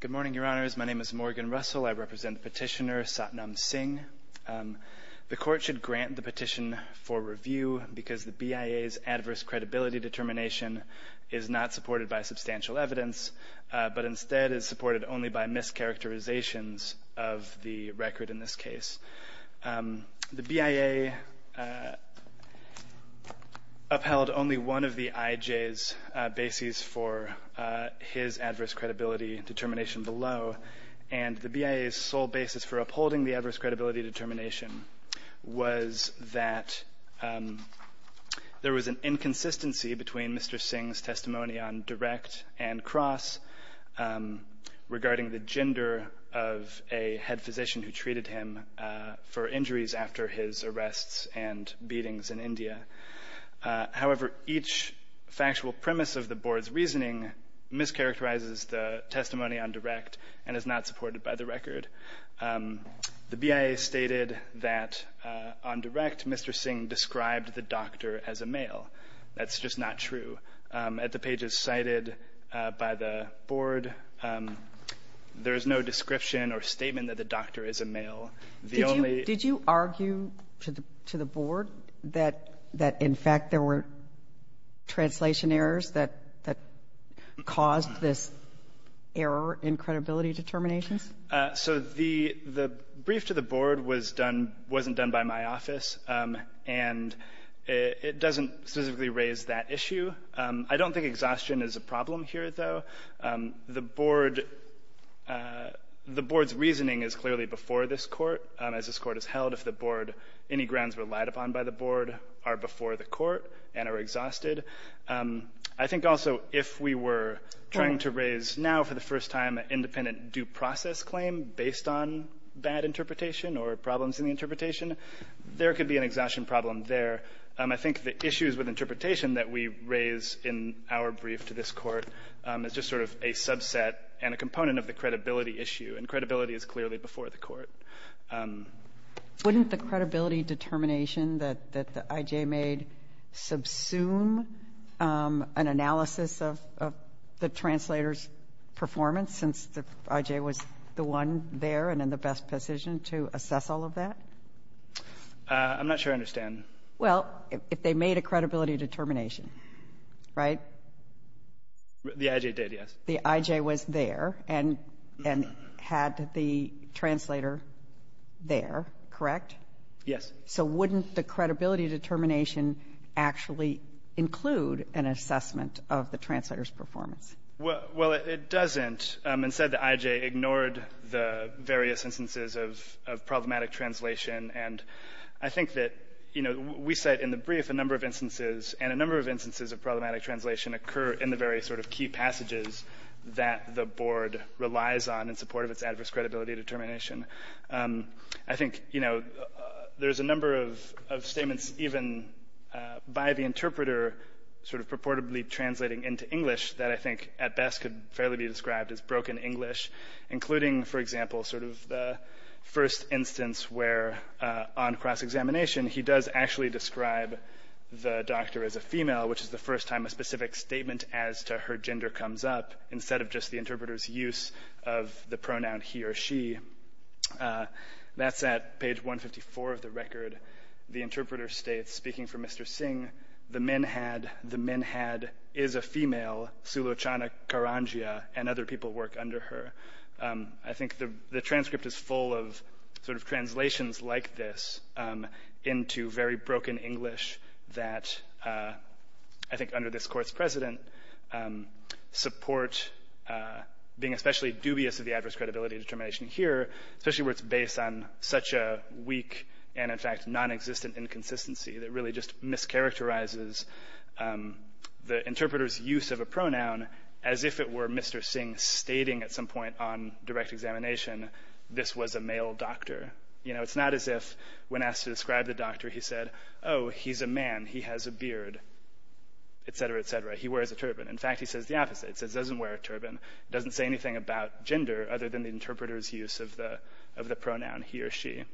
Good morning, your honors. My name is Morgan Russell. I represent petitioner Satnam Singh. The court should grant the petition for review because the BIA's adverse credibility determination is not supported by substantial evidence, but instead is supported only by mischaracterizations of the record in this case. The BIA upheld only one of the IJ's bases for his adverse credibility determination below, and the BIA's sole basis for upholding the adverse credibility determination was that there was an inconsistency between Mr. Singh's testimony on direct and cross regarding the gender of a head physician who treated him for injuries after his arrests and beatings in India. However, each factual premise of the board's reasoning mischaracterizes the testimony on direct and is not supported by the record. The BIA stated that on direct, Mr. Singh described the doctor as a male. That's just not true. At the pages cited by the board, there is no description or statement that the doctor is a male. The only ---- Kagan. Did you argue to the board that in fact there were translation errors that caused this error in credibility determinations? So the brief to the board was done, wasn't done by my office. And it doesn't specifically raise that issue. I don't think exhaustion is a problem here, though. The board's reasoning is clearly before this Court, as this Court has held, if the board any grounds relied upon by the board are before the Court and are exhausted. I think also if we were trying to raise now for the first time an independent due process claim based on bad interpretation or problems in the interpretation, there could be an exhaustion problem there. I think the issues with interpretation that we raise in our brief to this Court is just sort of a subset and a component of the credibility issue. And credibility is clearly before the Court. Wouldn't the credibility determination that the I.J. made subsume an analysis of the translator's performance since the I.J. was the one there and in the best position to assess all of that? I'm not sure I understand. Well, if they made a credibility determination, right? The I.J. did, yes. The I.J. was there and had the translator there, correct? Yes. So wouldn't the credibility determination actually include an assessment of the translator's performance? Well, it doesn't. Instead, the I.J. ignored the various instances of problematic translation. And I think that, you know, we cite in the brief a number of instances, and a number of instances of problematic translation occur in the very sort of key passages that the Board relies on in support of its adverse credibility determination. I think, you know, there's a number of statements even by the interpreter sort of purportedly translating into English that I think at best could fairly be described as broken English, including, for example, sort of the first instance where on cross-examination he does actually describe the doctor as a female, which is the first time a specific statement as to her gender comes up, instead of just the interpreter's use of the pronoun he or she. That's at page 154 of the record. The interpreter states, speaking for Mr. Singh, the men had, the men had, is a female, Sulochana Karangia, and other people work under her. I think the transcript is full of sort of translations like this into very broken English that I think under this Court's precedent support being especially dubious of the adverse credibility determination here, especially where it's based on such a weak and, in fact, nonexistent inconsistency that really just mischaracterizes the interpreter's use of a pronoun as if it were Mr. Singh stating at some point on direct examination this was a male doctor. You know, it's not as if when asked to describe the doctor he said, oh, he's a man, he has a beard, etc., etc. He wears a turban. In fact, he says the opposite. He says he doesn't wear a turban. He doesn't say anything about gender other than the interpreter's use of the pronoun he or she.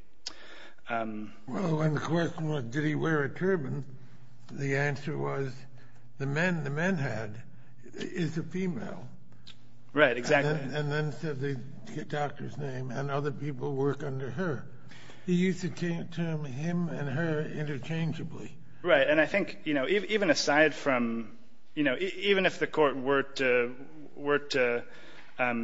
Well, the question was did he wear a turban? The answer was the men, the men had, is a female. Right. Exactly. And then said the doctor's name and other people work under her. He used the term him and her interchangeably. Right. And I think, you know, even aside from, you know, even if the Court were to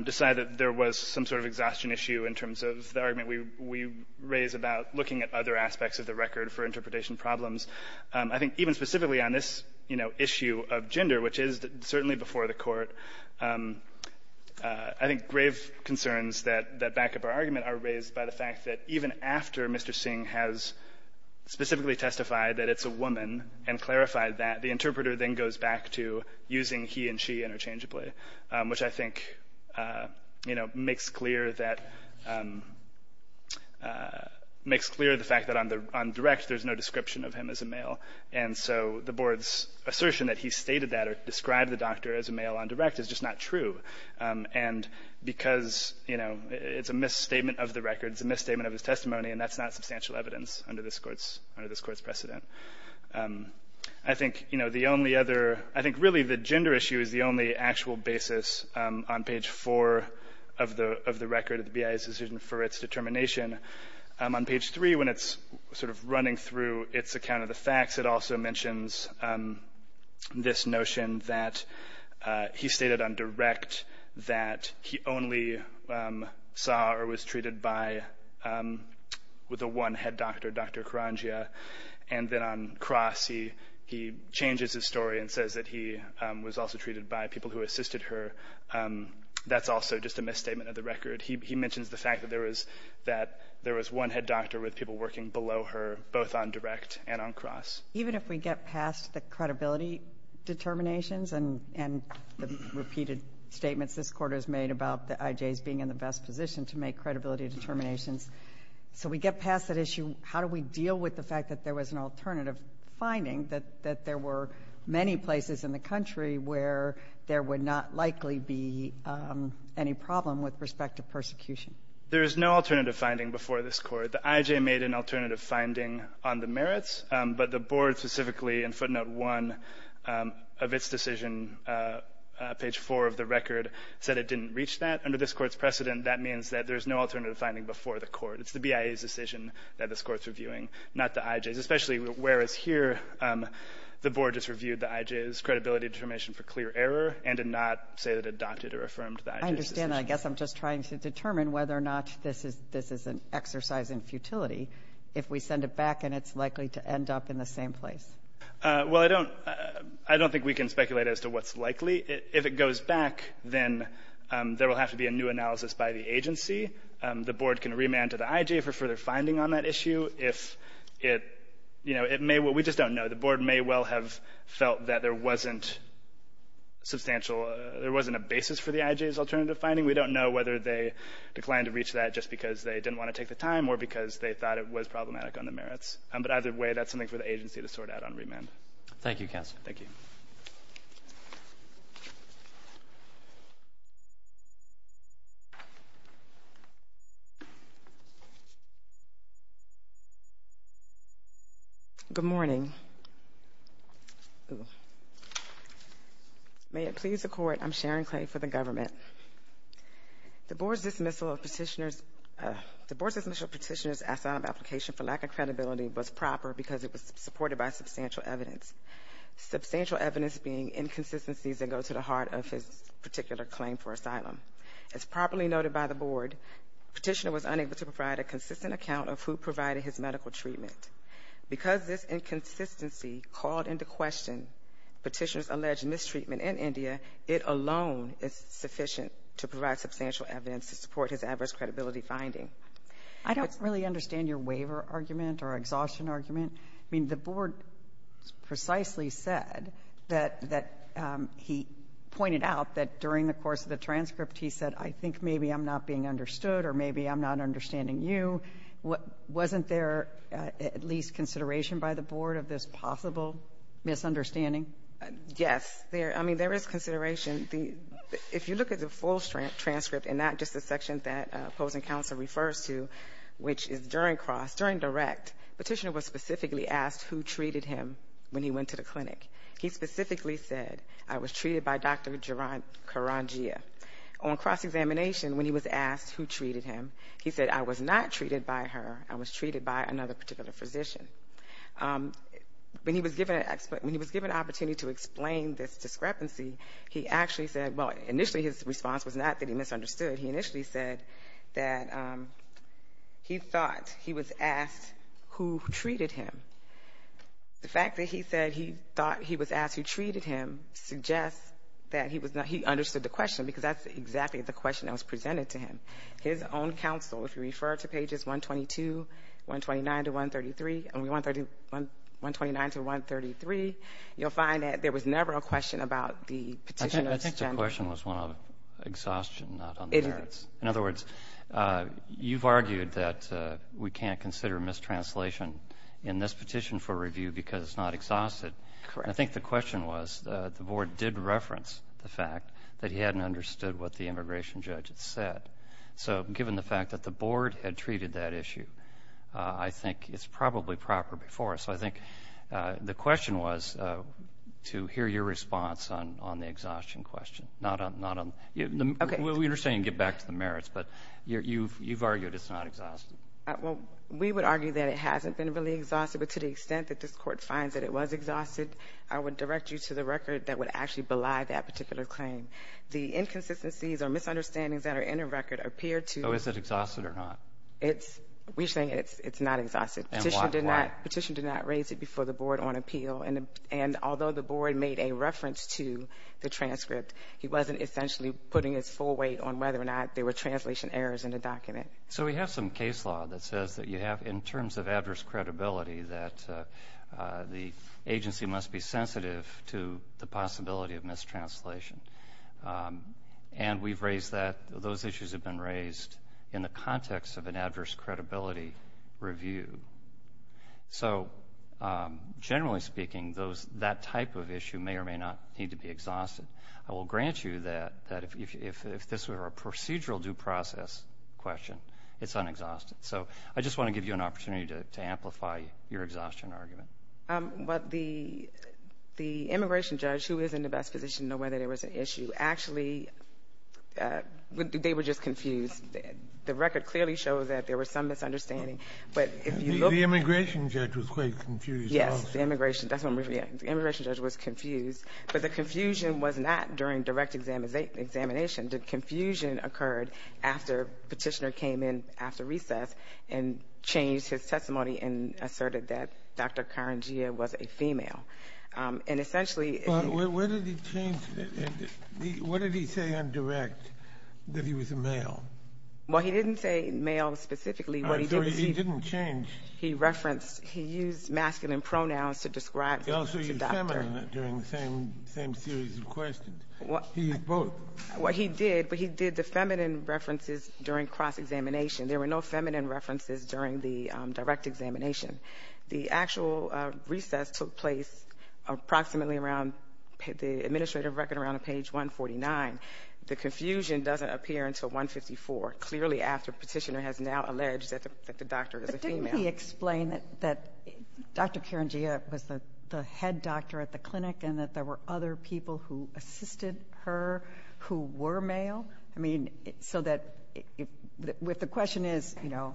decide that there was some sort of exhaustion issue in terms of the argument we raise about looking at other aspects of the record for interpretation problems, I think even specifically on this, you know, issue of gender, which is certainly before the Court, I think grave concerns that back up our argument are raised by the fact that even after Mr. Singh has specifically testified that it's a woman and clarified that, the interpreter then goes back to using he and she interchangeably, which I think, you know, makes clear that the fact that on direct there's no description of him as a male. And so the Board's assertion that he stated that or described the doctor as a male on direct is just not true. And because, you know, it's a misstatement of the record, it's a misstatement of his testimony, and that's not substantial evidence under this Court's precedent. I think, you know, the only other – I think really the gender issue is the only actual basis on page 4 of the record of the BIA's decision for its determination. On page 3, when it's sort of running through its account of the facts, it also mentions this notion that he stated on direct that he only saw or was treated by with a one-head doctor, Dr. Karangia. And then on cross, he changes his story and says that he was also treated by people who assisted her. That's also just a misstatement of the record. He mentions the fact that there was one-head doctor with people working below her, both on direct and on cross. Even if we get past the credibility determinations and the repeated statements this Court has made about the IJs being in the best position to make credibility determinations, so we get past that issue, how do we deal with the fact that there was an alternative finding that there were many places in the country where there would not likely be any problem with respect to persecution? There is no alternative finding before this Court. The IJ made an alternative finding on the merits, but the Board specifically in footnote 1 of its decision, page 4 of the record, said it didn't reach that. Under this Court's precedent, that means that there's no alternative finding before the Court. It's the BIA's decision that this Court's reviewing, not the IJ's, especially whereas here the Board has reviewed the IJ's credibility determination for clear error and did not say that it adopted or affirmed the IJ's decision. And I guess I'm just trying to determine whether or not this is an exercise in futility if we send it back and it's likely to end up in the same place. Well, I don't think we can speculate as to what's likely. If it goes back, then there will have to be a new analysis by the agency. The Board can remand to the IJ for further finding on that issue. If it, you know, it may well, we just don't know. The Board may well have felt that there wasn't substantial, there wasn't a basis for the IJ's alternative finding. We don't know whether they declined to reach that just because they didn't want to take the time or because they thought it was problematic on the merits. But either way, that's something for the agency to sort out on remand. Thank you, counsel. Thank you. Good morning. May it please the Court, I'm Sharon Clay for the government. The Board's dismissal of petitioner's asylum application for lack of credibility was proper because it was supported by substantial evidence, substantial evidence being inconsistencies that go to the heart of his particular claim for asylum. As properly noted by the Board, petitioner was unable to provide a consistent account of who provided his medical treatment. Because this inconsistency called into question petitioner's alleged mistreatment in India, it alone is sufficient to provide substantial evidence to support his adverse credibility finding. I don't really understand your waiver argument or exhaustion argument. I mean, the Board precisely said that he pointed out that during the course of the transcript, he said, I think maybe I'm not being understood or maybe I'm not understanding Wasn't there at least consideration by the Board of this possible misunderstanding? Yes. I mean, there is consideration. If you look at the full transcript and not just the section that opposing counsel refers to, which is during cross, during direct, petitioner was specifically asked who treated him when he went to the clinic. He specifically said, I was treated by Dr. Karangia. On cross-examination, when he was asked who treated him, he said, I was not treated by her. I was treated by another particular physician. When he was given an opportunity to explain this discrepancy, he actually said, well, initially his response was not that he misunderstood. He initially said that he thought he was asked who treated him. The fact that he said he thought he was asked who treated him suggests that he understood the question because that's exactly the question that was presented to him. His own counsel, if you refer to pages 122, 129 to 133, you'll find that there was never a question about the petitioner's gender. I think the question was one of exhaustion, not on the merits. In other words, you've argued that we can't consider mistranslation in this petition for review because it's not exhausted. Correct. I think the question was the Board did reference the fact that he hadn't understood what the immigration judge had said. So given the fact that the Board had treated that issue, I think it's probably proper before. So I think the question was to hear your response on the exhaustion question, not on the merits. We understand you can get back to the merits, but you've argued it's not exhausted. Well, we would argue that it hasn't been really exhausted, but to the extent that this Court finds that it was exhausted, I would direct you to the record that would actually belie that particular claim. The inconsistencies or misunderstandings that are in the record appear to be. Oh, is it exhausted or not? We're saying it's not exhausted. And why? The petitioner did not raise it before the Board on appeal, and although the Board made a reference to the transcript, he wasn't essentially putting his full weight on whether or not there were translation errors in the document. So we have some case law that says that you have, in terms of address credibility, that the agency must be sensitive to the possibility of mistranslation. And we've raised that. Those issues have been raised in the context of an adverse credibility review. So generally speaking, that type of issue may or may not need to be exhausted. I will grant you that if this were a procedural due process question, it's unexhausted. So I just want to give you an opportunity to amplify your exhaustion argument. Well, the immigration judge, who is in the best position to know whether there was an issue, actually they were just confused. The record clearly shows that there was some misunderstanding. The immigration judge was quite confused. Yes, the immigration judge was confused. But the confusion was not during direct examination. The confusion occurred after Petitioner came in after recess and changed his testimony and asserted that Dr. Karangia was a female. And essentially he was a male. Well, he didn't say male specifically. I'm sorry, he didn't change. He referenced, he used masculine pronouns to describe the doctor. He also used feminine during the same series of questions. He used both. Well, he did, but he did the feminine references during cross-examination. There were no feminine references during the direct examination. The actual recess took place approximately around the administrative record around page 149. The confusion doesn't appear until 154, clearly after Petitioner has now alleged that the doctor is a female. But didn't he explain that Dr. Karangia was the head doctor at the clinic and that there were other people who assisted her who were male? I mean, so that if the question is, you know,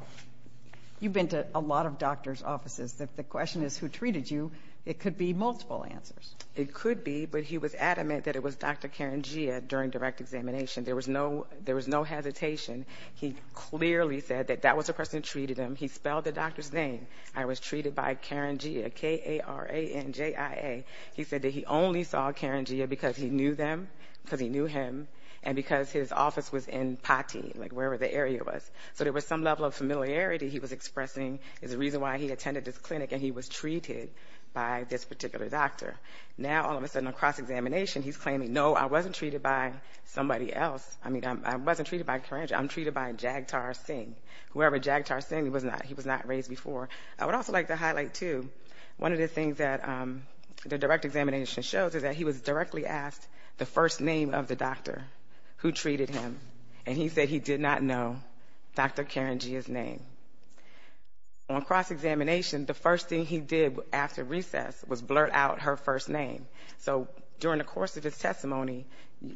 you've been to a lot of doctors' offices. If the question is who treated you, it could be multiple answers. It could be, but he was adamant that it was Dr. Karangia during direct examination. There was no hesitation. He clearly said that that was the person who treated him. He spelled the doctor's name. I was treated by Karangia, K-A-R-A-N-G-I-A. He said that he only saw Karangia because he knew them, because he knew him, and because his office was in Pati, like wherever the area was. So there was some level of familiarity he was expressing is the reason why he attended this clinic and he was treated by this particular doctor. Now, all of a sudden, on cross-examination, he's claiming, no, I wasn't treated by somebody else. I mean, I wasn't treated by Karangia. I'm treated by Jagtar Singh. Whoever Jagtar Singh was not, he was not raised before. I would also like to highlight, too, one of the things that the direct examination shows is that he was directly asked the first name of the doctor who treated him, and he said he did not know Dr. Karangia's name. On cross-examination, the first thing he did after recess was blurt out her first name. So during the course of his testimony,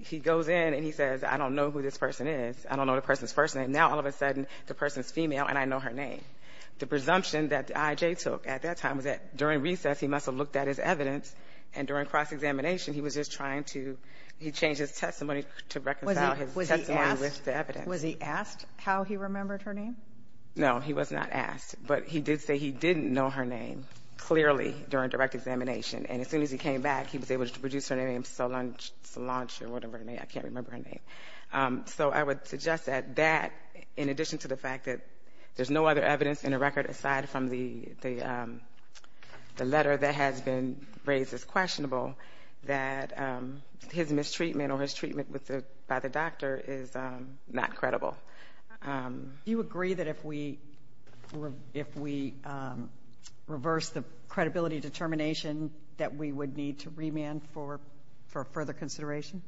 he goes in and he says, I don't know who this person is. I don't know the person's first name. Now, all of a sudden, the person's female and I know her name. The presumption that I.J. took at that time was that during recess, he must have looked at his evidence, and during cross-examination, he was just trying to change his testimony to reconcile his testimony with the evidence. Was he asked how he remembered her name? No, he was not asked. But he did say he didn't know her name, clearly, during direct examination. And as soon as he came back, he was able to produce her name, Solange, Solange or whatever her name is. I can't remember her name. So I would suggest that that, in addition to the fact that there's no other evidence in the record aside from the letter that has been raised as questionable, that his mistreatment or his treatment by the doctor is not credible. Do you agree that if we reverse the credibility determination that we would need to remand for further consideration?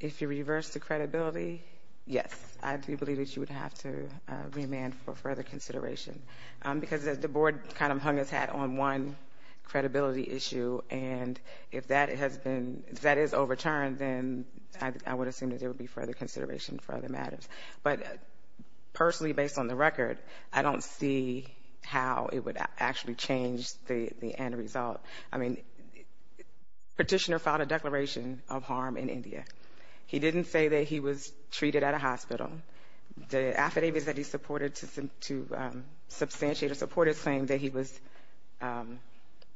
If you reverse the credibility, yes. I do believe that you would have to remand for further consideration because the board kind of hung its hat on one credibility issue, and if that has been, if that is overturned, then I would assume that there would be further consideration for other matters. But personally, based on the record, I don't see how it would actually change the end result. I mean, Petitioner filed a declaration of harm in India. He didn't say that he was treated at a hospital. The affidavits that he supported to substantiate or support his claim that he was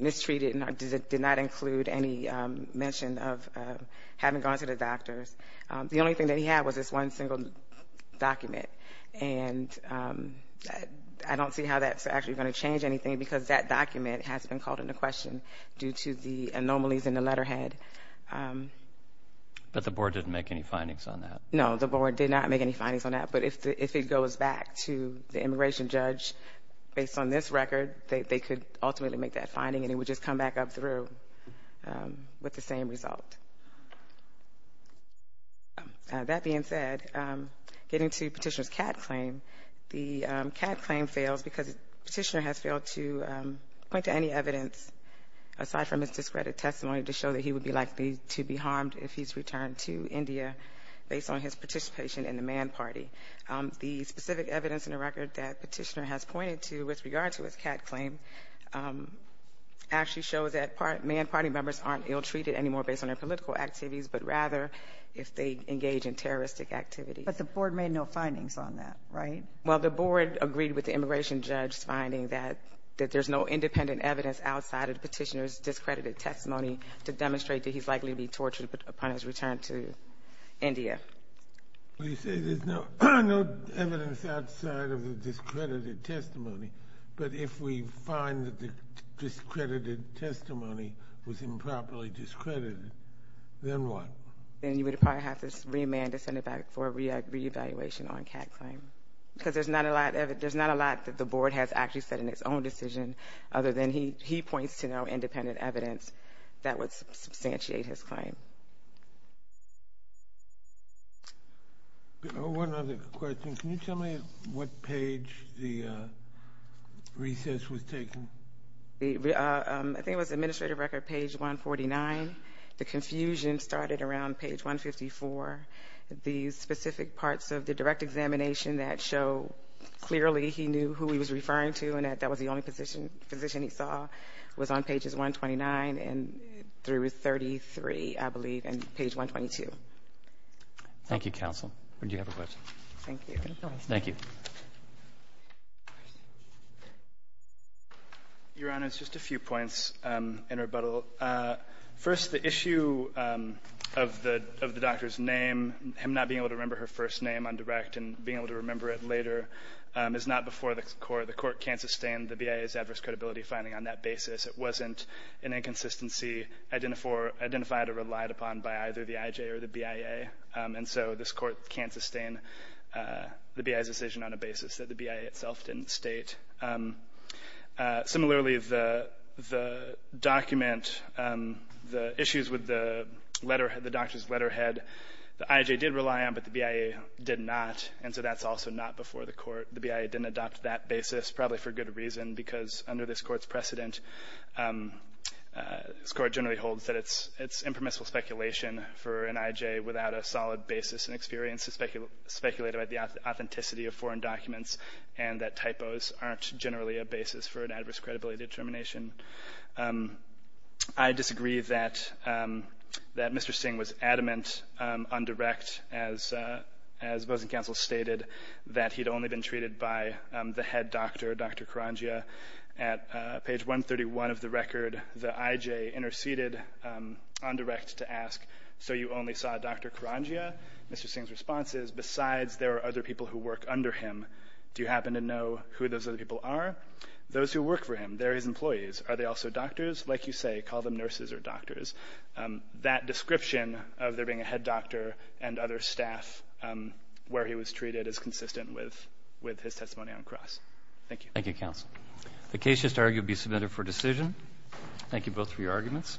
mistreated did not include any mention of having gone to the doctors. The only thing that he had was this one single document, and I don't see how that's actually going to change anything because that document has been called into question due to the anomalies in the letterhead. But the board didn't make any findings on that? No, the board did not make any findings on that, but if it goes back to the immigration judge, based on this record, they could ultimately make that finding, and it would just come back up through with the same result. That being said, getting to Petitioner's CAT claim, the CAT claim fails because Petitioner has failed to point to any evidence, aside from his discredited testimony, to show that he would be likely to be harmed if he's returned to India based on his participation in the Mann Party. The specific evidence in the record that Petitioner has pointed to with regard to his CAT claim actually shows that Mann Party members aren't ill-treated anymore based on their political activities, but rather if they engage in terroristic activity. But the board made no findings on that, right? Well, the board agreed with the immigration judge's finding that there's no independent evidence outside of Petitioner's discredited testimony to demonstrate that he's likely to be tortured upon his return to India. Well, you say there's no evidence outside of the discredited testimony, but if we find that the discredited testimony was improperly discredited, then what? Then you would probably have to remand to send it back for a reevaluation on a CAT claim because there's not a lot that the board has actually said in its own decision, other than he points to no independent evidence that would substantiate his claim. One other question. Can you tell me what page the recess was taken? I think it was administrative record page 149. The confusion started around page 154. The specific parts of the direct examination that show clearly he knew who he was referring to and that that was the only position he saw was on pages 129 through 33, I believe, and page 122. Thank you, counsel. Or do you have a question? Thank you. Thank you. Your Honor, it's just a few points in rebuttal. First, the issue of the doctor's name, him not being able to remember her first name on direct and being able to remember it later, is not before the court. The court can't sustain the BIA's adverse credibility finding on that basis. It wasn't an inconsistency identified or relied upon by either the IJ or the BIA. And so this Court can't sustain the BIA's decision on a basis that the BIA itself didn't state. Similarly, the document, the issues with the letterhead, the doctor's letterhead, the IJ did rely on, but the BIA did not, and so that's also not before the court. The BIA didn't adopt that basis, probably for good reason, because under this Court's precedent, this Court generally holds that it's impermissible speculation for an IJ without a solid basis and experience to speculate about the authenticity of foreign documents and that typos aren't generally a basis for an adverse credibility determination. I disagree that Mr. Singh was adamant on direct, as Bozeng Counsel stated, that he'd only been treated by the head doctor, Dr. Karangia. At page 131 of the record, the IJ interceded on direct to ask, so you only saw Dr. Karangia? Mr. Singh's response is, besides there are other people who work under him, do you happen to know who those other people are? Those who work for him, they're his employees. Are they also doctors? Like you say, call them nurses or doctors. That description of there being a head doctor and other staff where he was treated is consistent with his testimony on cross. Thank you. Thank you, Counsel. The case is to argue and be submitted for decision. Thank you both for your arguments.